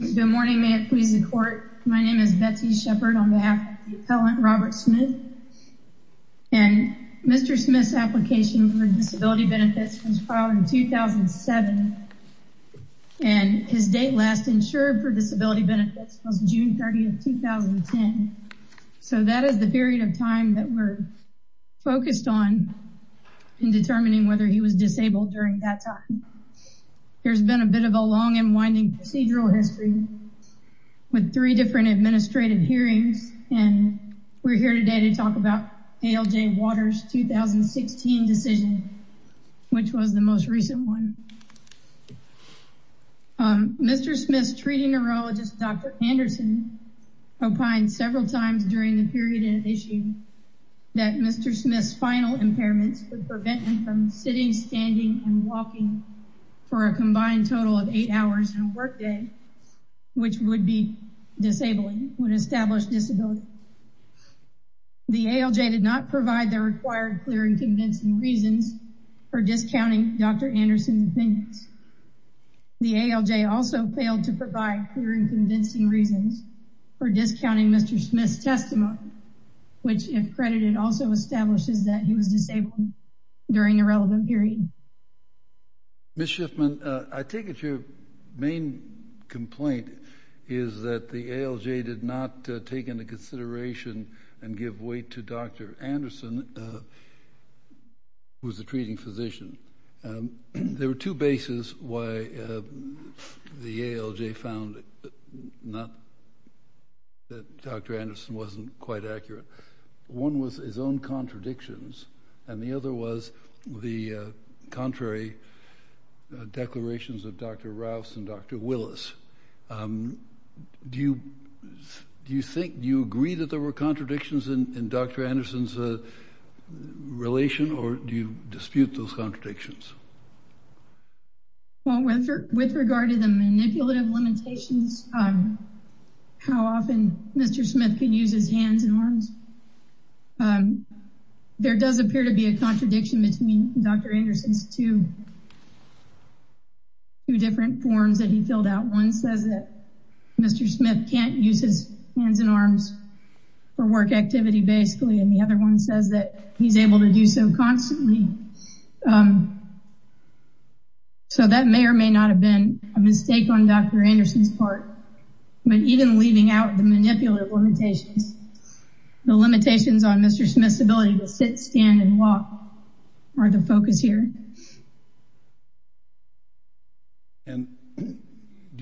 Good morning, may it please the court. My name is Betsy Shepard on behalf of the appellant, Robert Smith, and Mr. Smith's application for disability benefits was filed in 2007, and his date last insured for disability benefits was June 30, 2010. So that is the period of time that we're focused on in determining whether he was disabled during that time. There's been a bit of a long and winding procedural history with three different administrative hearings, and we're here today to talk about ALJ Waters' 2016 decision, which was the most recent one. Mr. Smith's treating neurologist, Dr. Anderson, opined several times during the period in issue that Mr. Smith's final impairments would prevent him from sitting, standing, and walking for a combined total of eight hours in a work day, which would be disabling, would establish disability. The ALJ did not provide the required clear and convincing reasons for discounting Dr. Anderson's opinions. The ALJ also failed to provide clear and convincing reasons for discounting Mr. Smith's testimony, which, if credited, also establishes that he was disabled during the relevant period. Ms. Schiffman, I take it your main complaint is that the ALJ did not take into consideration and give weight to Dr. Anderson, who was the treating physician. There were two bases why the ALJ found that Dr. Anderson wasn't quite accurate. One was his own contradictions, and the other was the contrary declarations of Dr. Rouse and Dr. Willis. Do you agree that there were contradictions in Dr. Anderson's relation, or do you dispute those contradictions? With regard to the manipulative limitations, how often Mr. Smith can use his hands and arms, there does appear to be a contradiction between Dr. Anderson's two different forms that he filled out. One says that Mr. Smith can't use his hands and arms for work activity, basically, and the other one says that he's able to do so constantly. That may or may not have been a mistake on Dr. Anderson's part, but even leaving out the manipulative limitations, the limitations on Mr. Smith's ability to sit, stand, and walk are the focus here. Do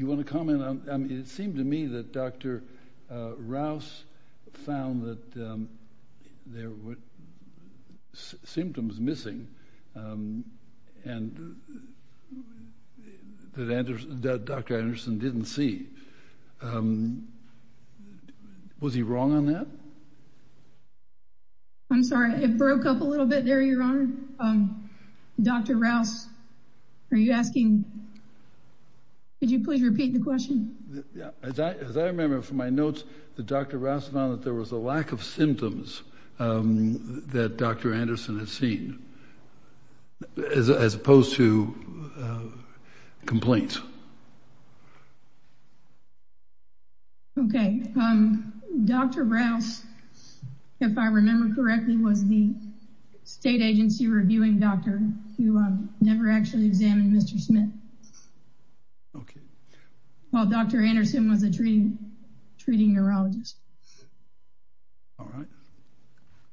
you want to comment? It seemed to me that Dr. Rouse found that there were symptoms missing that Dr. Anderson didn't see. Was he wrong on that? I'm sorry. It broke up a little bit there, Your Honor. Dr. Rouse, are you asking—could you please repeat the question? As I remember from my notes, Dr. Rouse found that there was a lack of symptoms that Dr. Anderson had seen, as opposed to complaints. Okay. Dr. Rouse, if I remember correctly, was the state agency reviewing doctor who never actually examined Mr. Smith, while Dr. Anderson was a treating neurologist. All right.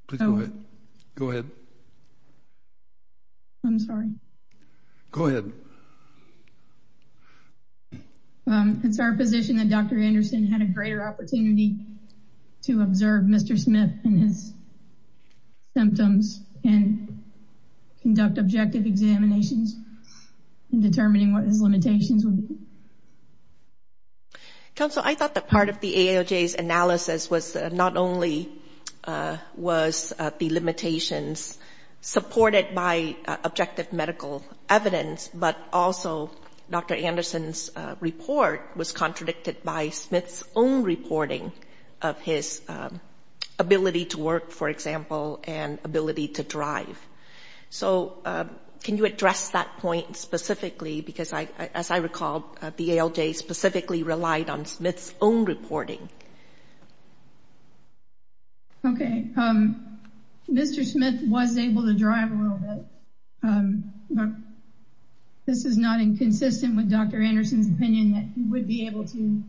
Please go ahead. Go ahead. I'm sorry. Go ahead. It's our position that Dr. Anderson had a greater opportunity to observe Mr. Smith and his symptoms and conduct objective examinations in determining what his limitations would be. Counsel, I thought that part of the ALJ's analysis was not only was the limitations supported by objective medical evidence, but also Dr. Anderson's report was contradicted by Smith's own reporting of his ability to work, for example, and ability to drive. Can you address that point specifically? Because, as I recall, the ALJ specifically relied on Smith's own reporting. Okay. Mr. Smith was able to drive a little bit, but this is not inconsistent with Dr. Anderson's opinion that he would be able to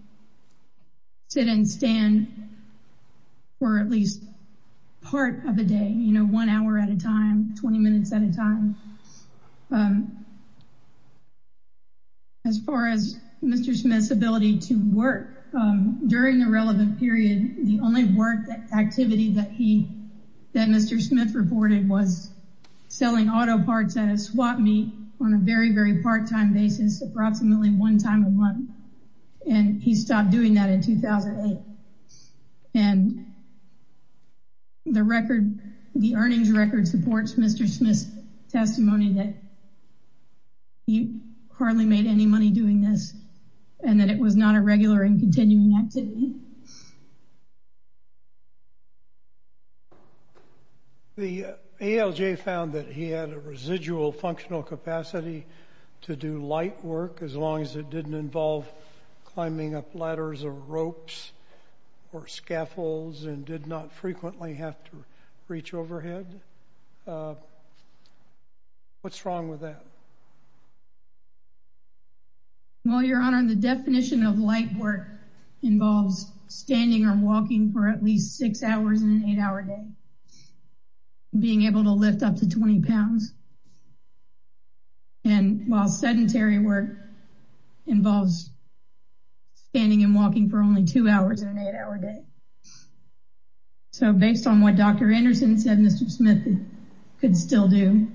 sit and stand for at least part of a day, you know, one hour at a time, 20 minutes at a time. As far as Mr. Smith's ability to work, during the relevant period, the only work activity that Mr. Smith reported was selling auto parts at a swap meet on a very, very part-time basis, approximately one time a month. And he stopped doing that in 2008. And the earnings record supports Mr. Smith's testimony that he hardly made any money doing this and that it was not a regular and continuing activity. The ALJ found that he had a residual functional capacity to do light work as long as it didn't involve climbing up ladders or ropes or scaffolds and did not frequently have to reach overhead. What's wrong with that? Well, Your Honor, the definition of light work involves standing or walking for at least six hours in an eight-hour day, being able to lift up to 20 pounds, and while sedentary work involves standing and walking for only two hours in an eight-hour day. So based on what Dr. Anderson said, Mr. Smith could still do.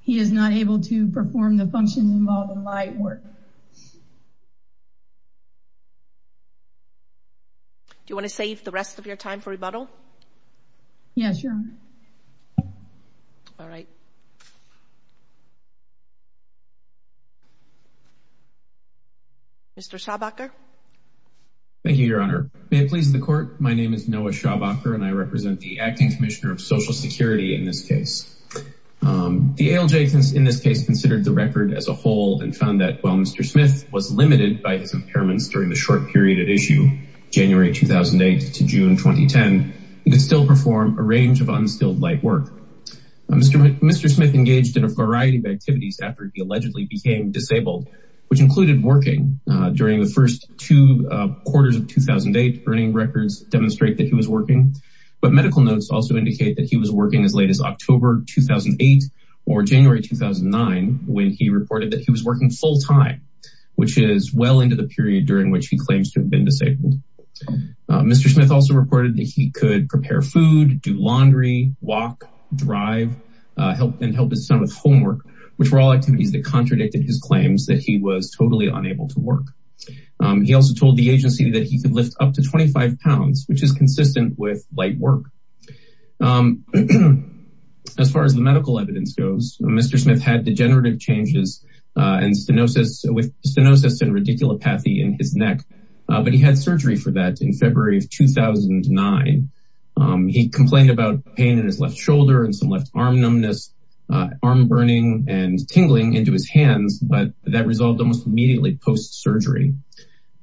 He is not able to perform the functions involved in light work. Do you want to save the rest of your time for rebuttal? Yes, Your Honor. All right. Mr. Schaubacher. Thank you, Your Honor. May it please the court. My name is Noah Schaubacher, and I represent the Acting Commissioner of Social Security in this case. The ALJ in this case considered the record as a whole and found that while Mr. Smith was limited by his impairments during the short period at issue, January 2008 to June 2010, he could still perform a range of unstilled light work. Mr. Smith engaged in a variety of activities after he allegedly became disabled, which included working. During the first two quarters of 2008, burning records demonstrate that he was working, but medical notes also indicate that he was working as late as October 2008 or January 2009 when he reported that he was working full-time, which is well into the period during which he claims to have been disabled. Mr. Smith also reported that he could prepare food, do laundry, walk, drive, and help his son with homework, which were all activities that contradicted his claims that he was totally unable to work. He also told the agency that he could lift up to 25 pounds, which is consistent with light work. As far as the medical evidence goes, Mr. Smith had degenerative changes with stenosis and radiculopathy in his neck, but he had surgery for that in February of 2009. He complained about pain in his left shoulder and some left arm numbness, arm burning, and tingling into his hands, but that resolved almost immediately post-surgery.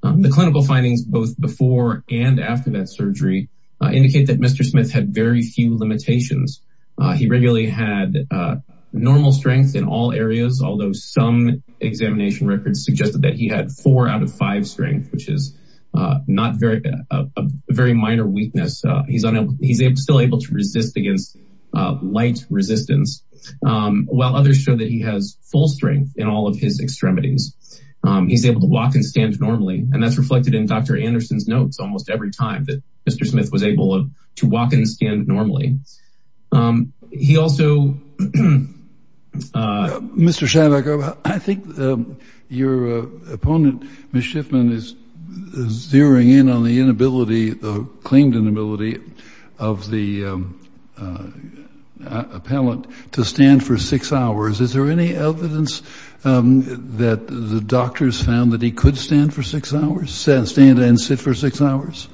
The clinical findings both before and after that surgery indicate that Mr. Smith had very few limitations. He regularly had normal strength in all areas, although some examination records suggested that he had four out of five strength, which is a very minor weakness. He's still able to resist against light resistance, while others show that he has full strength in all of his extremities. He's able to walk and stand normally, and that's reflected in Dr. Anderson's notes almost every time that Mr. Smith was able to walk and stand normally. He also... Mr. Shavack, I think your opponent, Ms. Schiffman, is zeroing in on the inability, the claimed inability of the appellant to stand for six hours. Is there any evidence that the doctors found that he could stand and sit for six hours?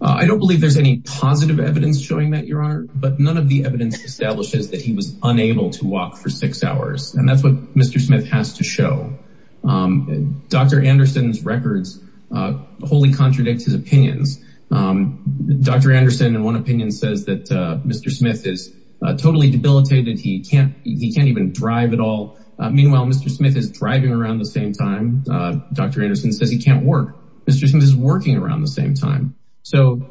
I don't believe there's any positive evidence showing that, Your Honor, but none of the evidence establishes that he was unable to walk for six hours, and that's what Mr. Smith has to show. Dr. Anderson's records wholly contradict his opinions. Dr. Anderson, in one opinion, says that Mr. Smith is totally debilitated. He can't even drive at all. Meanwhile, Mr. Smith is driving around the same time. Dr. Anderson says he can't work. Mr. Smith is working around the same time. So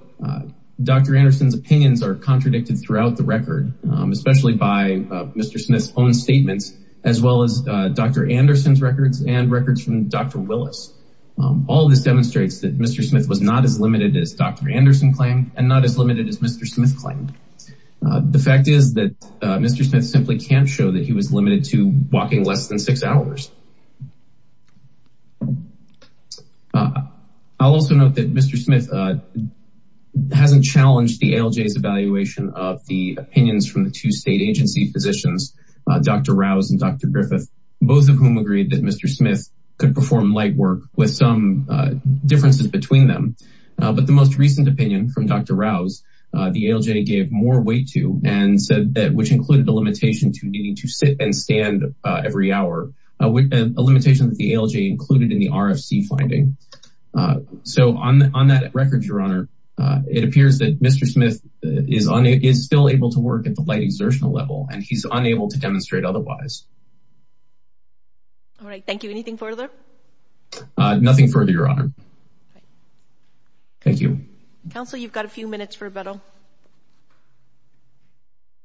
Dr. Anderson's opinions are contradicted throughout the record, especially by Mr. Smith's own statements, as well as Dr. Anderson's records and records from Dr. Willis. All of this demonstrates that Mr. Smith was not as limited as Dr. Anderson claimed and not as limited as Mr. Smith claimed. The fact is that Mr. Smith simply can't show that he was limited to walking less than six hours. I'll also note that Mr. Smith hasn't challenged the ALJ's evaluation of the opinions from the two state agency physicians, Dr. Rouse and Dr. Griffith, both of whom agreed that Mr. Smith could perform light work with some differences between them. But the most recent opinion from Dr. Rouse, the ALJ gave more weight to and said that, which included a limitation to needing to sit and stand every hour, a limitation that the ALJ included in the RFC finding. So on that record, Your Honor, it appears that Mr. Smith is still able to work at the light exertional level and he's unable to demonstrate otherwise. All right. Thank you. Anything further? Nothing further, Your Honor. Thank you. Counsel, you've got a few minutes for rebuttal.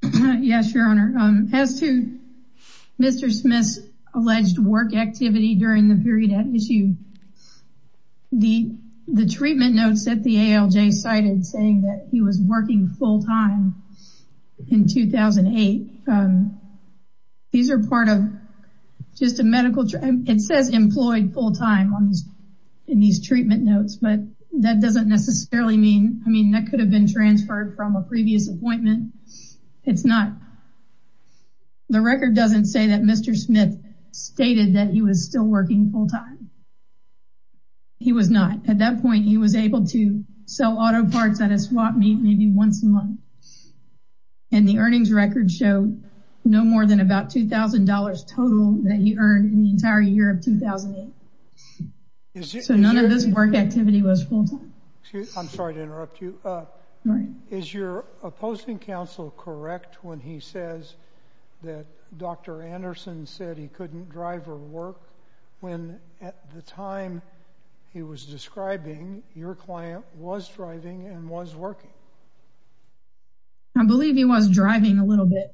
Yes, Your Honor. As to Mr. Smith's alleged work activity during the period at issue, the treatment notes that the ALJ cited saying that he was working full time in 2008, these are part of just a medical, it says employed full time in these treatment notes, but that doesn't necessarily mean, I mean, that could have been transferred from a previous appointment. It's not. The record doesn't say that Mr. Smith stated that he was still working full time. He was not. At that point, he was able to sell auto parts at a swap meet maybe once a month. And the earnings record showed no more than about $2,000 total that he earned in the entire year of 2008. So none of this work activity was full time. I'm sorry to interrupt you. Is your opposing counsel correct when he says that Dr. Anderson said he couldn't drive or work when at the time he was describing, your client was driving and was working? I believe he was driving a little bit.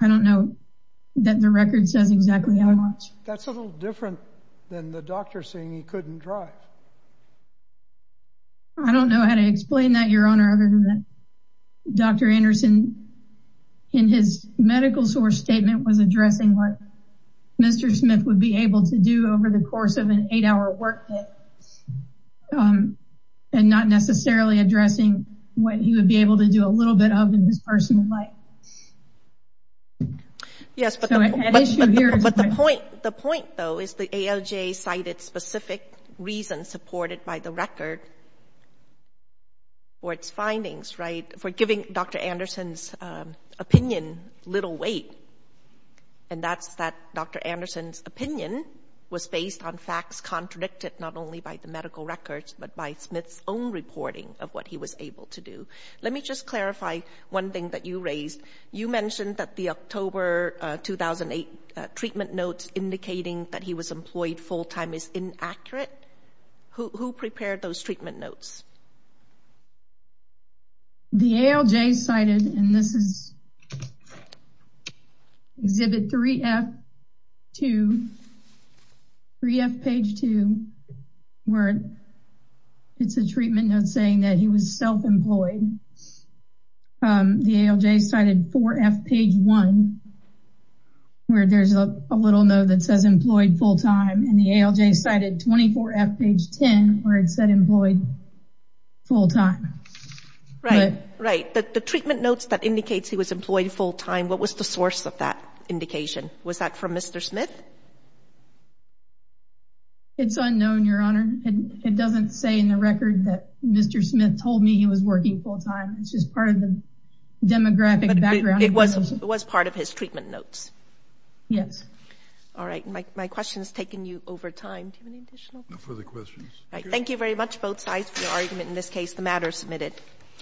I don't know that the record says exactly how much. That's a little different than the doctor saying he couldn't drive. I don't know how to explain that, Your Honor, other than Dr. Anderson in his medical source statement was addressing what Mr. Smith would be able to do over the course of an eight hour work day. And not necessarily addressing what he would be able to do a little bit of in his personal life. Yes, but the point though is the AOJ cited specific reasons supported by the record or its findings for giving Dr. Anderson's opinion little weight. And that's that Dr. Anderson's opinion was based on facts contradicted not only by the medical records but by Smith's own reporting of what he was able to do. Let me just clarify one thing that you raised. You mentioned that the October 2008 treatment notes indicating that he was employed full time is inaccurate. Who prepared those treatment notes? The AOJ cited, and this is exhibit 3F page 2, where it's a treatment note saying that he was self-employed. The AOJ cited 4F page 1, where there's a little note that says employed full time. And the AOJ cited 24F page 10, where it said employed full time. Right, right. The treatment notes that indicates he was employed full time, what was the source of that indication? Was that from Mr. Smith? It's unknown, Your Honor. It doesn't say in the record that Mr. Smith told me he was working full time. It's just part of the demographic background. But it was part of his treatment notes? Yes. All right. My question has taken you over time. Do you have any additional questions? No further questions. All right. Thank you very much both sides for your argument. In this case, the matter is submitted.